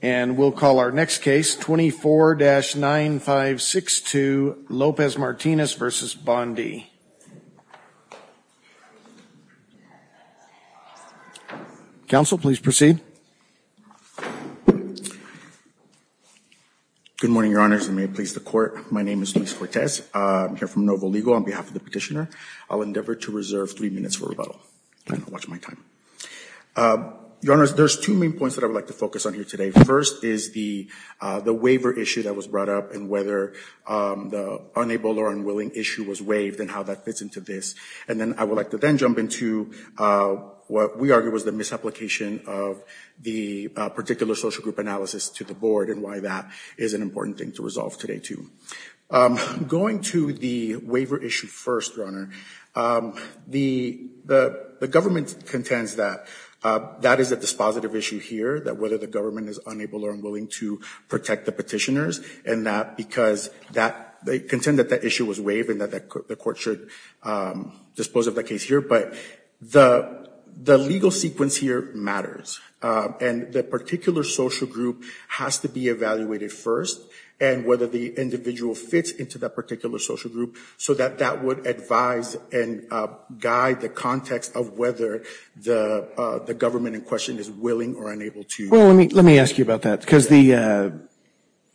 And we'll call our next case, 24-9562, Lopez-Martinez v. Bondi. Counsel, please proceed. Good morning, Your Honors, and may it please the Court. My name is Luis Cortez. I'm here from Novo Legal on behalf of the petitioner. I'll endeavor to reserve three minutes for rebuttal. Watch my time. Your Honors, there's two main points that I would like to focus on here today. First is the waiver issue that was brought up and whether the unable or unwilling issue was waived and how that fits into this. And then I would like to then jump into what we argue was the misapplication of the particular social group analysis to the Board and why that is an important thing to resolve today, too. Going to the waiver issue first, Your Honor, the government contends that that is a dispositive issue here, that whether the government is unable or unwilling to protect the petitioners and that because they contend that that issue was waived and that the Court should dispose of that case here. But the legal sequence here matters, and the particular social group has to be evaluated first and whether the individual fits into that particular social group so that that would advise and guide the context of whether the government in question is willing or unable to. Well, let me ask you about that because the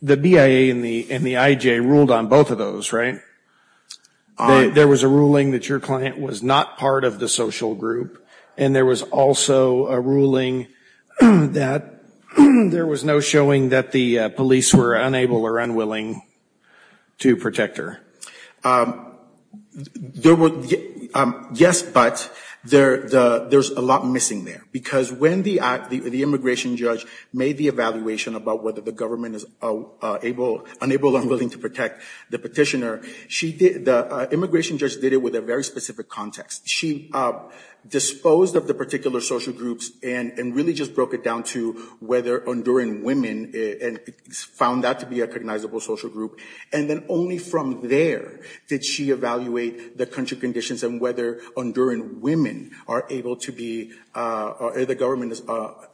BIA and the IJ ruled on both of those, right? There was a ruling that your client was not part of the social group, and there was also a ruling that there was no showing that the police were unable or unwilling to protect her. Yes, but there's a lot missing there because when the immigration judge made the evaluation about whether the government is unable or unwilling to protect the petitioner, the immigration judge did it with a very specific context. She disposed of the particular social groups and really just broke it down to whether enduring women found that to be a recognizable social group. And then only from there did she evaluate the country conditions and whether enduring women are able to be—the government is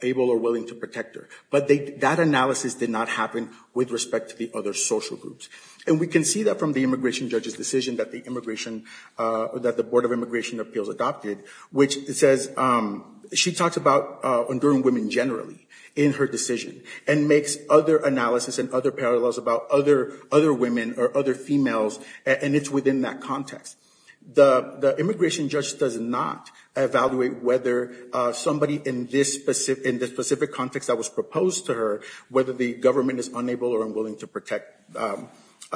able or willing to protect her. But that analysis did not happen with respect to the other social groups. And we can see that from the immigration judge's decision that the Board of Immigration Appeals adopted, which says she talks about enduring women generally in her decision and makes other analysis and other parallels about other women or other females, and it's within that context. The immigration judge does not evaluate whether somebody in this specific context that was proposed to her, whether the government is unable or unwilling to protect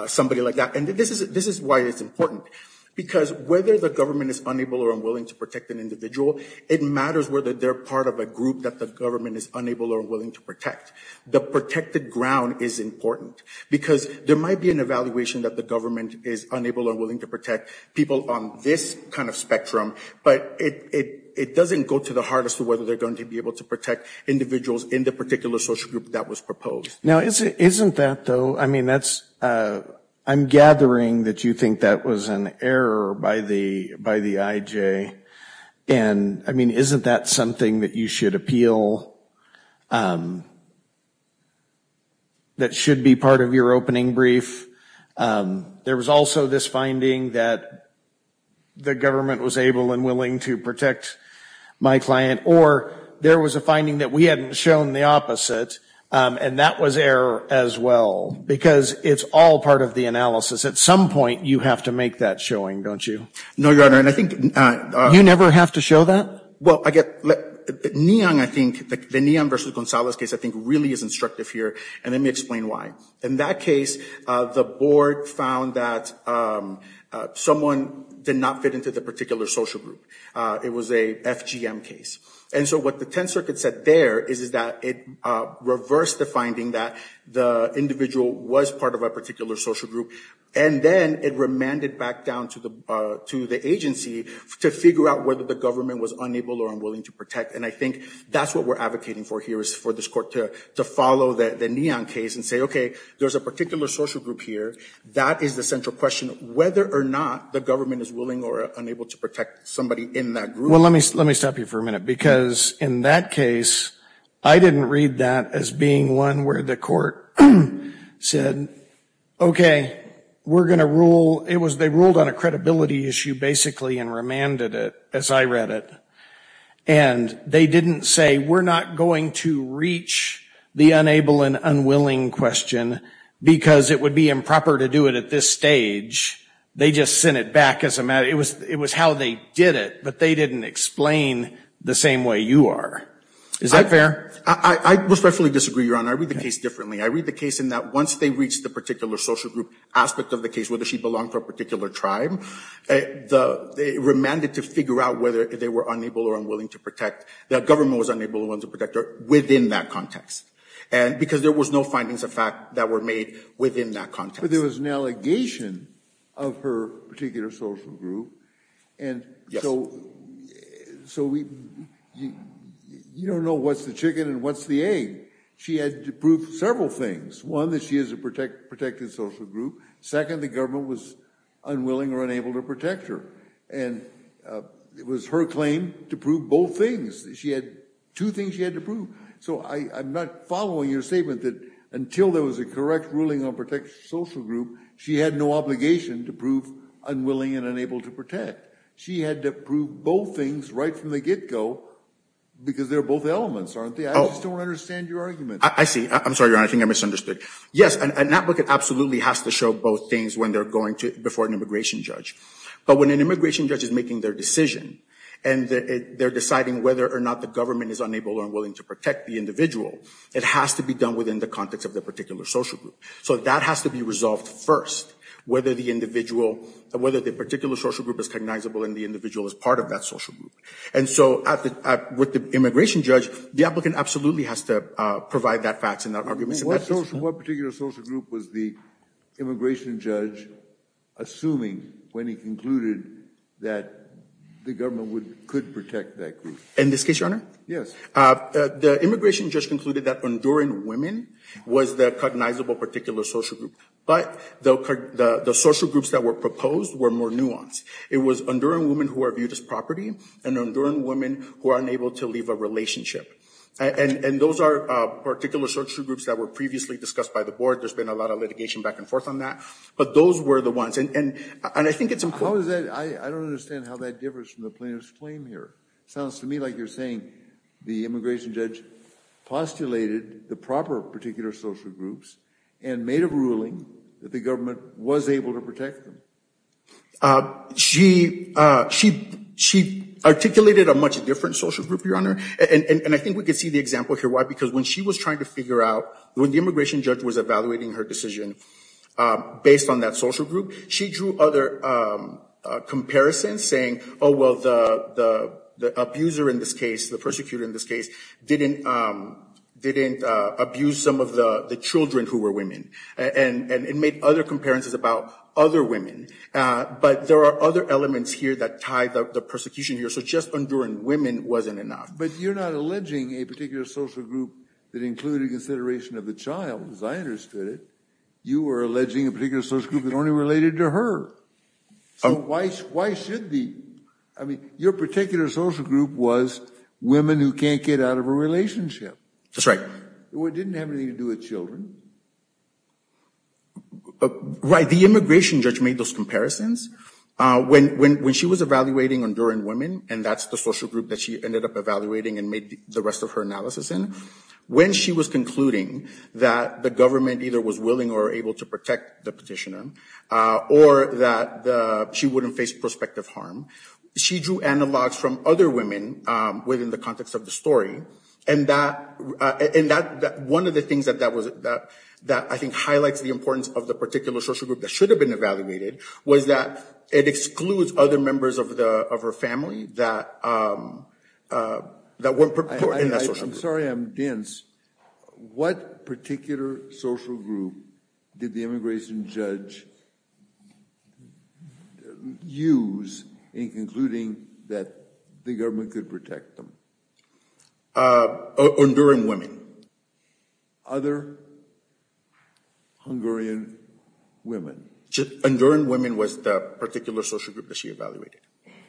somebody like that. And this is why it's important because whether the government is unable or unwilling to protect an individual, it matters whether they're part of a group that the government is unable or willing to protect. The protected ground is important because there might be an evaluation that the government is unable or willing to protect people on this kind of spectrum, but it doesn't go to the heart as to whether they're going to be able to protect individuals in the particular social group that was proposed. Now, isn't that, though—I mean, that's—I'm gathering that you think that was an error by the IJ. And, I mean, isn't that something that you should appeal that should be part of your opening brief? There was also this finding that the government was able and willing to protect my client, or there was a finding that we hadn't shown the opposite, and that was error as well, because it's all part of the analysis. At some point, you have to make that showing, don't you? No, Your Honor, and I think— You never have to show that? Well, I get—Neon, I think—the Neon v. Gonzalez case, I think, really is instructive here, and let me explain why. In that case, the board found that someone did not fit into the particular social group. It was a FGM case, and so what the Tenth Circuit said there is that it reversed the finding that the individual was part of a particular social group, and then it remanded back down to the agency to figure out whether the government was unable or unwilling to protect, and I think that's what we're advocating for here is for this court to follow the Neon case and say, okay, there's a particular social group here. That is the central question, whether or not the government is willing or unable to protect somebody in that group. Well, let me stop you for a minute, because in that case, I didn't read that as being one where the court said, okay, we're going to rule—they ruled on a credibility issue, basically, and remanded it, as I read it, and they didn't say, we're not going to reach the unable and unwilling question because it would be improper to do it at this stage. They just sent it back as a matter—it was how they did it, but they didn't explain the same way you are. Is that fair? I respectfully disagree, Your Honor. I read the case differently. I read the case in that once they reached the particular social group aspect of the case, whether she belonged to a particular tribe, they remanded to figure out whether they were unable or unwilling to protect. The government was unable or unwilling to protect her within that context, because there was no findings of fact that were made within that context. But there was an allegation of her particular social group, and so you don't know what's the chicken and what's the egg. She had to prove several things. One, that she is a protected social group. Second, the government was unwilling or unable to protect her, and it was her claim to prove both things. She had two things she had to prove. So I'm not following your statement that until there was a correct ruling on protected social group, she had no obligation to prove unwilling and unable to protect. She had to prove both things right from the get-go, because they're both elements, aren't they? I just don't understand your argument. I see. I'm sorry, Your Honor. I think I misunderstood. Yes, an advocate absolutely has to show both things when they're going to—before an immigration judge. But when an immigration judge is making their decision, and they're deciding whether or not the government is unable or unwilling to protect the individual, it has to be done within the context of the particular social group. So that has to be resolved first, whether the particular social group is cognizable and the individual is part of that social group. And so with the immigration judge, the applicant absolutely has to provide that fact and that argument. What particular social group was the immigration judge assuming when he concluded that the government could protect that group? In this case, Your Honor? Yes. The immigration judge concluded that enduring women was the cognizable particular social group. But the social groups that were proposed were more nuanced. It was enduring women who are viewed as property and enduring women who are unable to leave a relationship. And those are particular social groups that were previously discussed by the board. There's been a lot of litigation back and forth on that. But those were the ones. And I think it's important— I don't understand how that differs from the plaintiff's claim here. It sounds to me like you're saying the immigration judge postulated the proper particular social groups and made a ruling that the government was able to protect them. She articulated a much different social group, Your Honor. And I think we can see the example here. Why? Because when she was trying to figure out—when the immigration judge was evaluating her decision based on that social group, she drew other comparisons saying, oh, well, the abuser in this case, the persecutor in this case, didn't abuse some of the children who were women. And it made other comparisons about other women. But there are other elements here that tie the persecution here. So just enduring women wasn't enough. But you're not alleging a particular social group that included consideration of the child, as I understood it. You were alleging a particular social group that only related to her. So why should the—I mean, your particular social group was women who can't get out of a relationship. That's right. It didn't have anything to do with children. Right. The immigration judge made those comparisons. When she was evaluating enduring women, and that's the social group that she ended up evaluating and made the rest of her analysis in, when she was concluding that the government either was willing or able to protect the petitioner or that she wouldn't face prospective harm, she drew analogs from other women within the context of the story. And that—one of the things that I think highlights the importance of the particular social group that should have been evaluated was that it excludes other members of her family that weren't— I'm sorry, I'm dense. What particular social group did the immigration judge use in concluding that the government could protect them? Enduring women. Other Hungarian women. Enduring women was the particular social group that she evaluated.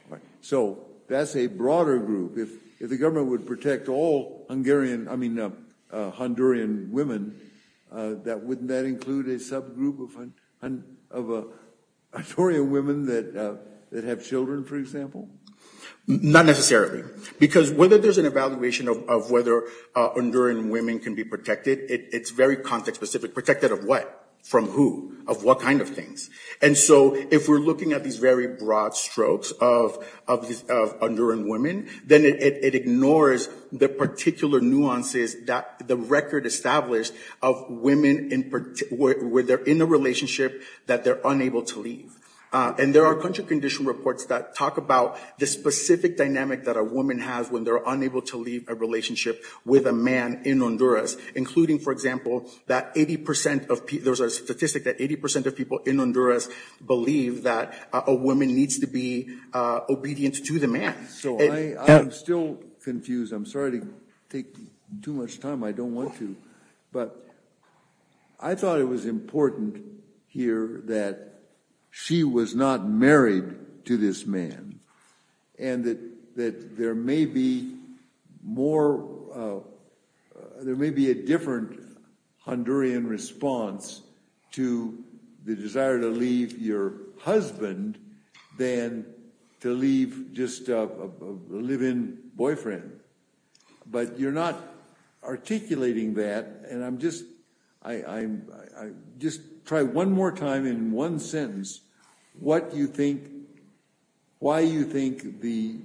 Right. So that's a broader group. If the government would protect all Hungarian—I mean, Honduran women, wouldn't that include a subgroup of Honduran women that have children, for example? Not necessarily. Because whether there's an evaluation of whether Honduran women can be protected, it's very context-specific. Protected of what? From who? Of what kind of things? And so if we're looking at these very broad strokes of Honduran women, then it ignores the particular nuances that the record established of women where they're in a relationship that they're unable to leave. And there are country condition reports that talk about the specific dynamic that a woman has when they're unable to leave a relationship with a man in Honduras, including, for example, that 80% of—there's a statistic that 80% of people in Honduras believe that a woman needs to be obedient to the man. So I am still confused. I'm sorry to take too much time. I don't want to. But I thought it was important here that she was not married to this man and that there may be more—there may be a different Honduran response to the desire to leave your husband than to leave just a live-in boyfriend. But you're not articulating that, and I'm just—just try one more time in one sentence what you think—why you think the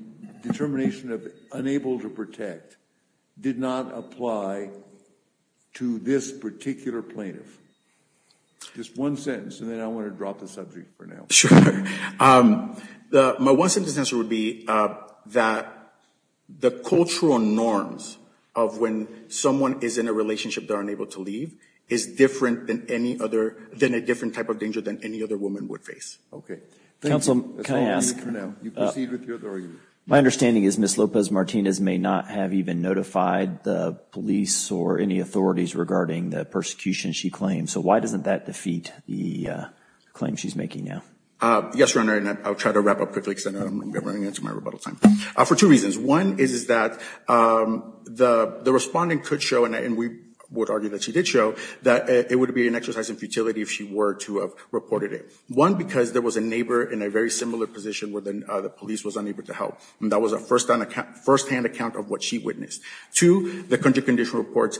determination of unable to protect did not apply to this particular plaintiff. Just one sentence, and then I want to drop the subject for now. Sure. My one sentence answer would be that the cultural norms of when someone is in a relationship that are unable to leave is different than any other—than a different type of danger than any other woman would face. Okay. Counsel, can I ask— That's all I'm going to do for now. You proceed with your argument. My understanding is Ms. Lopez-Martinez may not have even notified the police or any authorities regarding the persecution she claims. So why doesn't that defeat the claim she's making now? Yes, Your Honor, and I'll try to wrap up quickly because I'm running into my rebuttal time. For two reasons. One is that the respondent could show, and we would argue that she did show, that it would be an exercise in futility if she were to have reported it. One, because there was a neighbor in a very similar position where the police was unable to help, and that was a firsthand account of what she witnessed. Two, the country condition reports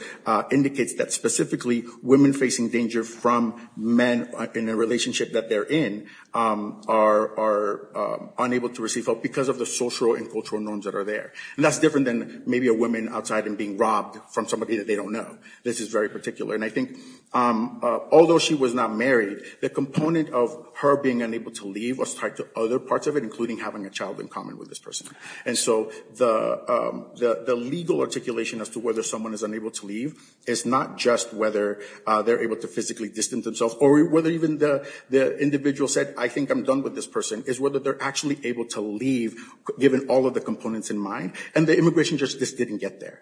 indicates that specifically women facing danger from men in a relationship that they're in are unable to receive help because of the social and cultural norms that are there. And that's different than maybe a woman outside and being robbed from somebody that they don't know. This is very particular. And I think although she was not married, the component of her being unable to leave was tied to other parts of it, including having a child in common with this person. And so the legal articulation as to whether someone is unable to leave is not just whether they're able to physically distance themselves or whether even the individual said, I think I'm done with this person, it's whether they're actually able to leave given all of the components in mind. And the immigration justice didn't get there.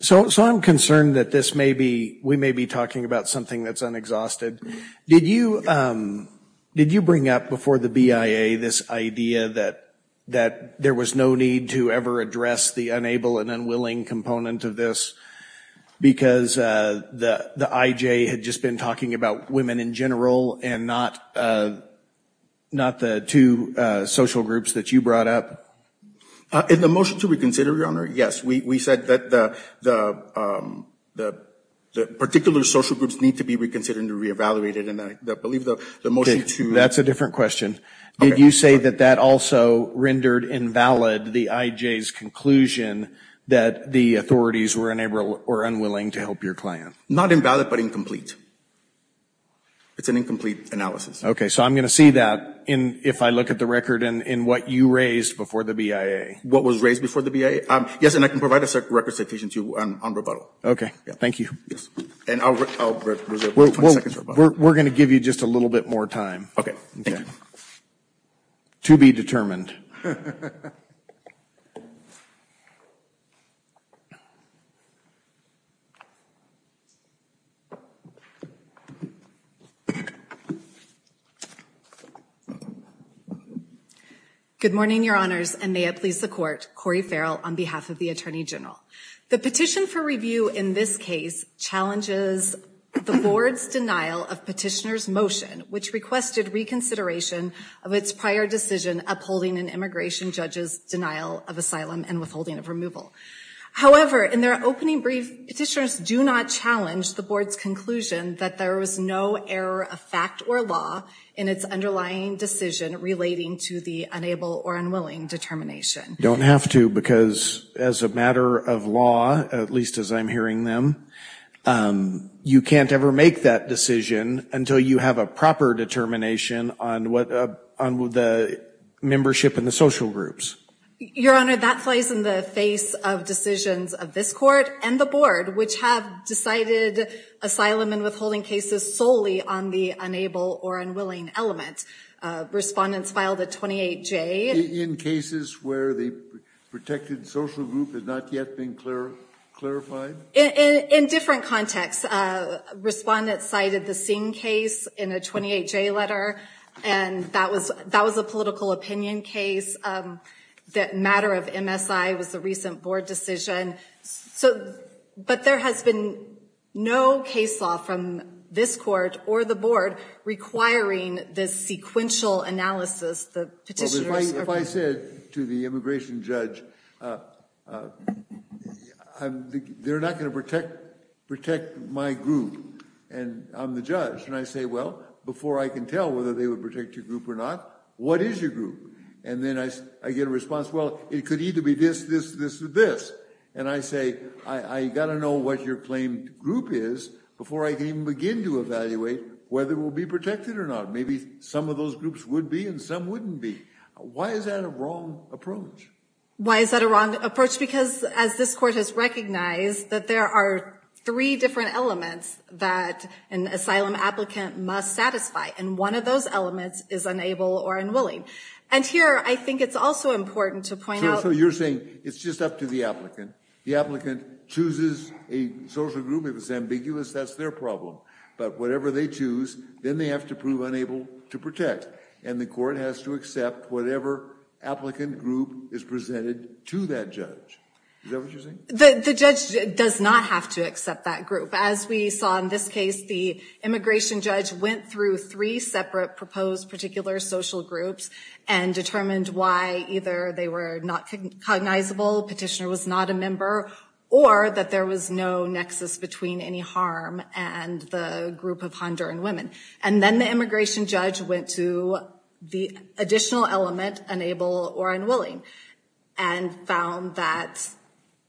So I'm concerned that this may be, we may be talking about something that's unexhausted. Did you bring up before the BIA this idea that there was no need to ever address the unable and unwilling component of this because the IJ had just been talking about women in general and not the two social groups that you brought up? In the motion to reconsider, Your Honor, yes. We said that the particular social groups need to be reconsidered and re-evaluated. And I believe the motion to- That's a different question. Did you say that that also rendered invalid the IJ's conclusion that the authorities were unable or unwilling to help your client? Not invalid, but incomplete. It's an incomplete analysis. Okay. So I'm going to see that if I look at the record in what you raised before the BIA. What was raised before the BIA? Yes, and I can provide a record citation to you on rebuttal. Thank you. And I'll reserve 20 seconds for rebuttal. We're going to give you just a little bit more time. Okay. Thank you. To be determined. Good morning, Your Honors, and may it please the Court. Cori Farrell on behalf of the Attorney General. The petition for review in this case challenges the Board's denial of petitioner's motion, which requested reconsideration of its prior decision upholding an IJ's position. However, in their opening brief, petitioners do not challenge the Board's conclusion that there was no error of fact or law in its underlying decision relating to the unable or unwilling determination. You don't have to, because as a matter of law, at least as I'm hearing them, you can't ever make that decision until you have a proper determination on the membership and the social groups. Your Honor, that plays in the face of decisions of this Court and the Board, which have decided asylum and withholding cases solely on the unable or unwilling element. Respondents filed a 28-J. In cases where the protected social group has not yet been clarified? In different contexts. Respondents cited the Singh case in a 28-J letter, and that was a political opinion case. The matter of MSI was the recent Board decision. But there has been no case law from this Court or the Board requiring this sequential analysis. If I said to the immigration judge, they're not going to protect my group, and I'm the judge. And I say, well, before I can tell whether they would protect your group or not, what is your group? And then I get a response, well, it could either be this, this, this, or this. And I say, I've got to know what your claimed group is before I can even begin to evaluate whether we'll be protected or not. Maybe some of those groups would be, and some wouldn't be. Why is that a wrong approach? Why is that a wrong approach? Because as this Court has recognized, that there are three different elements that an asylum applicant must satisfy. And one of those elements is unable or unwilling. But here, I think it's also important to point out— So you're saying it's just up to the applicant. The applicant chooses a social group. If it's ambiguous, that's their problem. But whatever they choose, then they have to prove unable to protect. And the Court has to accept whatever applicant group is presented to that judge. Is that what you're saying? The judge does not have to accept that group. As we saw in this case, the immigration judge went through three separate proposed particular social groups and determined why either they were not cognizable, petitioner was not a member, or that there was no nexus between any harm and the group of Honduran women. And then the immigration judge went to the additional element, unable or unwilling, and found that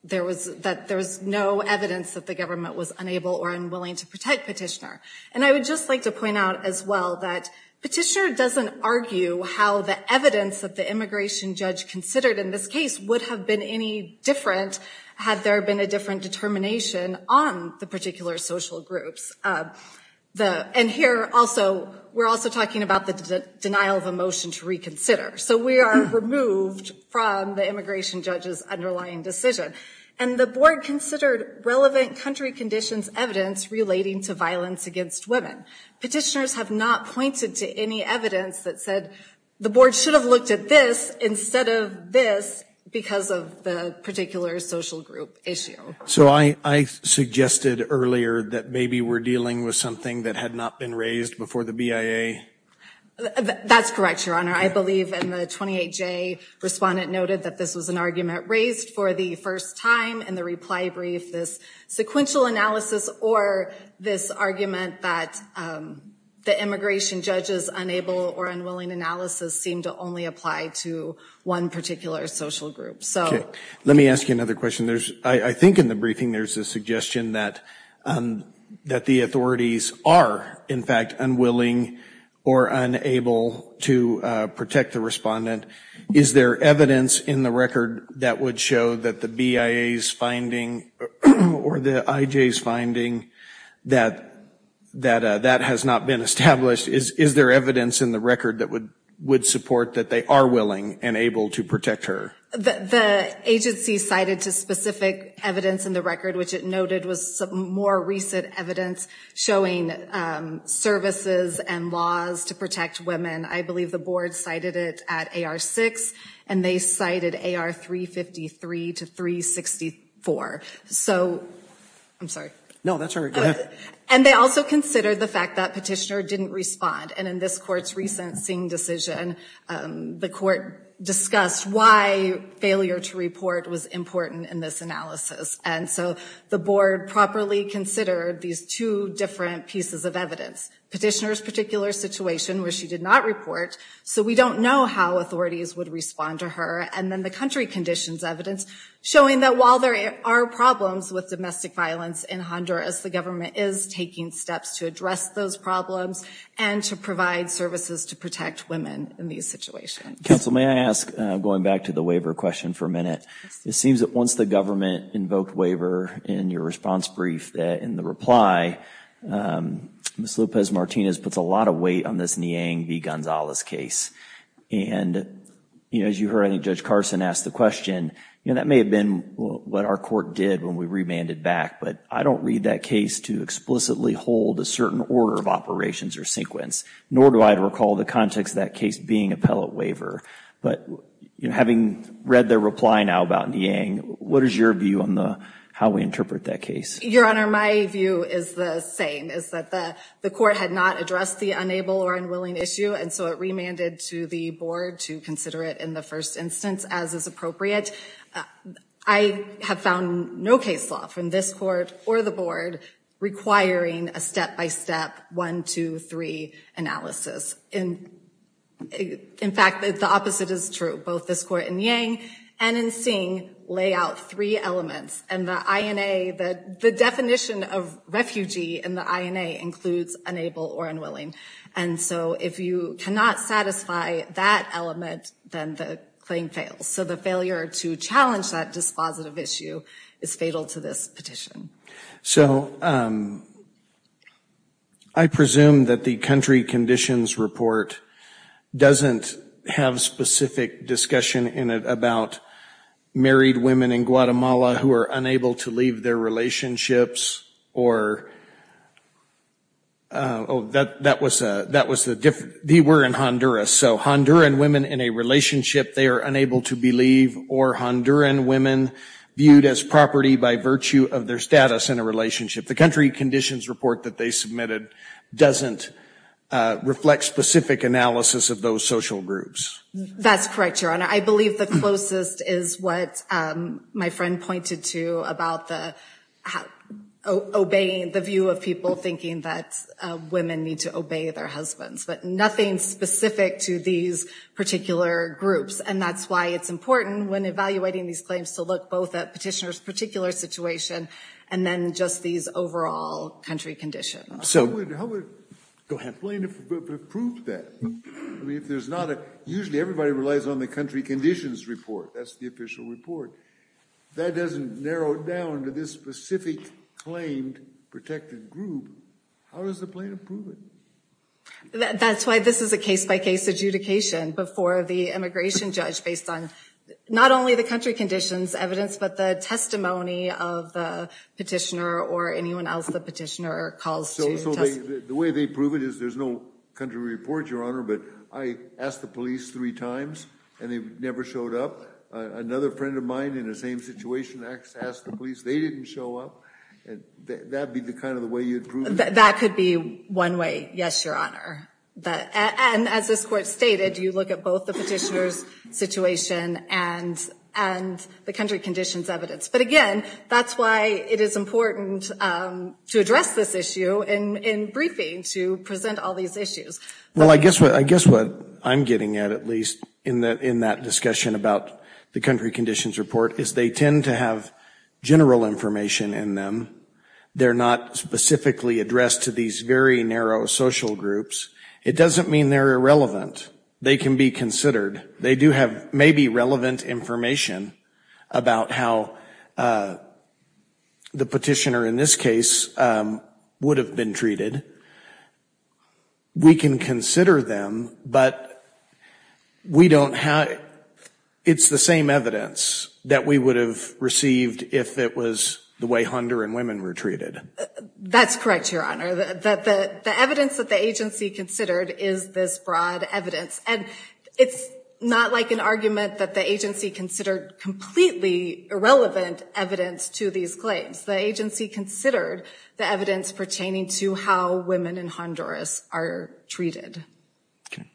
there was no evidence that the government was unable or unwilling to protect petitioner. And I would just like to point out as well that petitioner doesn't argue how the evidence that the immigration judge considered in this case would have been any different had there been a different determination on the particular social groups. And here, we're also talking about the denial of a motion to reconsider. So we are removed from the immigration judge's underlying decision. And the board considered relevant country conditions evidence relating to violence against women. Petitioners have not pointed to any evidence that said the board should have looked at this instead of this because of the particular social group issue. So I suggested earlier that maybe we're dealing with something that had not been raised before the BIA? That's correct, Your Honor. I believe in the 28J, respondent noted that this was an argument raised for the first time in the reply brief. This sequential analysis or this argument that the immigration judge's unable or unwilling analysis seemed to only apply to one particular social group. Let me ask you another question. I think in the briefing there's a suggestion that the authorities are, in fact, unwilling or unable to protect the respondent. Is there evidence in the record that would show that the BIA's finding or the IJ's finding that that has not been established? Is there evidence in the record that would support that they are willing and able to protect her? The agency cited specific evidence in the record which it noted was more recent evidence showing services and laws to protect women. I believe the board cited it at AR 6 and they cited AR 353 to 364. So, I'm sorry. No, that's all right. Go ahead. And they also considered the fact that petitioner didn't respond. And in this court's recent seeing decision, the court discussed why failure to report was important in this analysis. And so, the board properly considered these two different pieces of evidence. Petitioner's particular situation where she did not report, so we don't know how authorities would respond to her. And then the country conditions evidence showing that while there are problems with domestic violence in Honduras, the government is taking steps to address those problems and to provide services to protect women in these situations. Counsel, may I ask, going back to the waiver question for a minute, it seems that once the government invoked waiver in your response brief in the reply, Ms. Lopez-Martinez puts a lot of weight on this Niang v. Gonzalez case. And as you heard, I think Judge Carson asked the question, that may have been what our court did when we remanded back, but I don't read that case to explicitly hold a certain order of operations or sequence, nor do I recall the context of that case being appellate waiver. But having read the reply now about Niang, what is your view on how we interpret that case? Your Honor, my view is the same, is that the court had not addressed the unable or unwilling issue, and so it remanded to the board to consider it in the first instance as is appropriate. I have found no case law from this court or the board requiring a step-by-step one, two, three analysis. In fact, the opposite is true. Both this court in Niang and in Singh lay out three elements, and the INA, the definition of refugee in the INA includes unable or unwilling. And so if you cannot satisfy that element, then the claim fails. So the failure to challenge that dispositive issue is fatal to this petition. So, I presume that the country conditions report doesn't have specific discussion in it about married women in Guatemala who are unable to leave their relationships or, oh, that was the, they were in Honduras, so Honduran women in a relationship they are unable to believe, or Honduran women viewed as property by virtue of their status in a relationship. The country conditions report that they submitted doesn't reflect specific analysis of those social groups. That's correct, Your Honor. I believe the closest is what my friend pointed to about the obeying, the view of people thinking that women need to obey their husbands, but nothing specific to these particular groups. And that's why it's important when evaluating these claims to look both at petitioner's particular situation and then just these overall country conditions. How would a plaintiff prove that? I mean, if there's not a, usually everybody relies on the country conditions report. That's the official report. That doesn't narrow it down to this specific claimed protected group. How does the plaintiff prove it? That's why this is a case-by-case adjudication before the immigration judge based on not only the country conditions evidence, but the testimony of the petitioner or anyone else the petitioner calls to testify. So the way they prove it is there's no country report, Your Honor, but I asked the police three times and they never showed up. Another friend of mine in the same situation asked the police. They didn't show up. That'd be kind of the way you'd prove it? That could be one way, yes, Your Honor. And as this court stated, you look at both the petitioner's situation and the country conditions evidence. But again, that's why it is important to address this issue in briefing to present all these issues. Well, I guess what I'm getting at, at least, in that discussion about the country conditions report is they tend to have general information in them. They're not specifically addressed to these very narrow social groups. It doesn't mean they're irrelevant. They can be considered. They do have maybe relevant information about how the petitioner in this case would have been treated. We can consider them, but we don't have, it's the same evidence that we would have received if it was the way Hunter and women were treated. That's correct, Your Honor. The evidence that the agency considered is this broad evidence. And it's not like an argument that the agency considered completely irrelevant evidence to these claims. The agency considered the evidence pertaining to how women in Honduras are treated. Okay.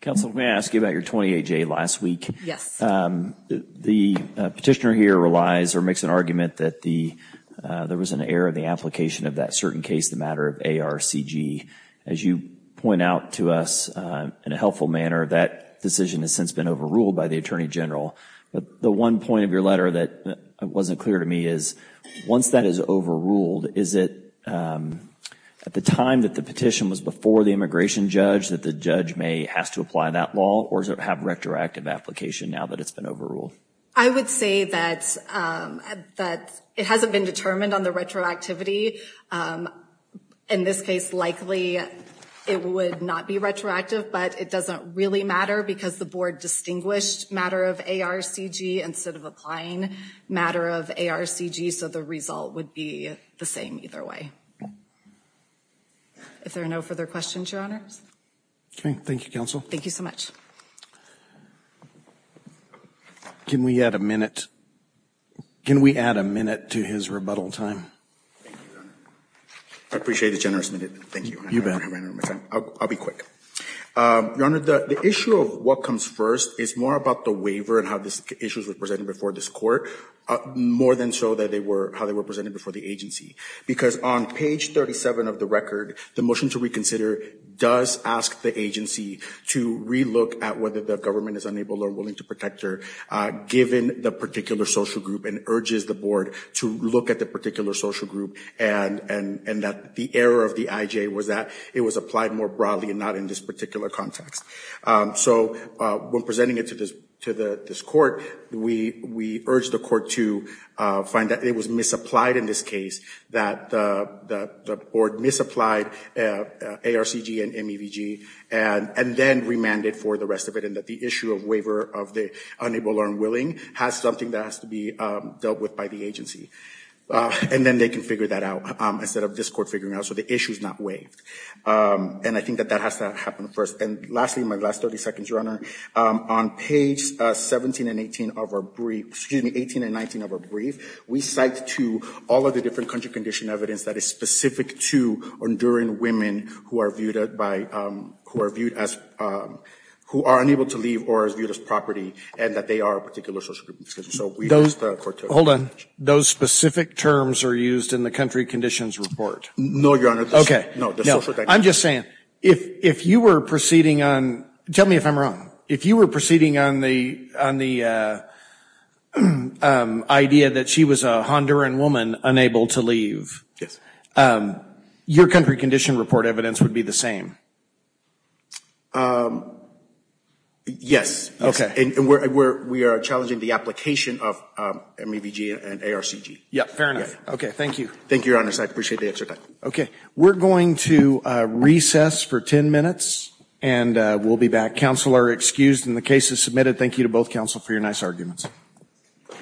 Counsel, may I ask you about your 28-J last week? Yes. The petitioner here relies or makes an argument that there was an error in the application of that certain case, the matter of ARCG. As you point out to us in a helpful manner, that decision has since been overruled by the Attorney General. The one point of your letter that wasn't clear to me is once that is overruled, is it at the time that the petition was before the immigration judge that the judge may have to apply that law or have retroactive application now that it's been overruled? I would say that it hasn't been determined on the retroactivity. In this case, likely it would not be retroactive, but it doesn't really matter because the board distinguished matter of ARCG instead of applying matter of ARCG, so the result would be the same either way. If there are no further questions, Your Honors. Okay. Thank you, Counsel. Thank you so much. Can we add a minute? Can we add a minute to his rebuttal time? Thank you, Your Honor. I appreciate the generous minute. Thank you. You bet. I'll be quick. Your Honor, the issue of what comes first is more about the waiver and how these issues were presented before this court more than so that they were, how they were presented before the agency because on page 37 of the record, the motion to reconsider does ask the agency to relook at whether the government is unable or willing to protect her given the particular social group and urges the board to look at the particular social group and that the error of the IJ was that it was applied more broadly and not in this particular context. So when presenting it to this court, we urge the court to find that it was misapplied in this case, that the board misapplied ARCG and MEVG and then remanded for the rest of it and that the issue of waiver of the unable or unwilling has something that has to be dealt with by the agency and then they can figure that out instead of this court figuring out so the issue is not waived and I think that that has to happen first and lastly, my last 30 seconds, Your Honor, on page 17 and 18 of our brief, excuse me, 18 and 19 of our brief, we cite to all of the different country condition evidence that is specific to enduring women who are viewed as, who are unable to leave or are viewed as property and that they are a particular social group. Hold on, those specific terms are used in the country conditions report? No, Your Honor. I'm just saying, if you were proceeding on, tell me if I'm wrong, if you were proceeding on the idea that she was a Honduran woman unable to leave, your country condition report and the evidence would be the same? Yes. And we are challenging the application of MAVG and ARCG. Yeah, fair enough. Okay, thank you. Thank you, Your Honors, I appreciate the answer. Okay, we're going to recess for 10 minutes and we'll be back. Counsel are excused and the case is submitted. Thank you to both counsel for your nice arguments.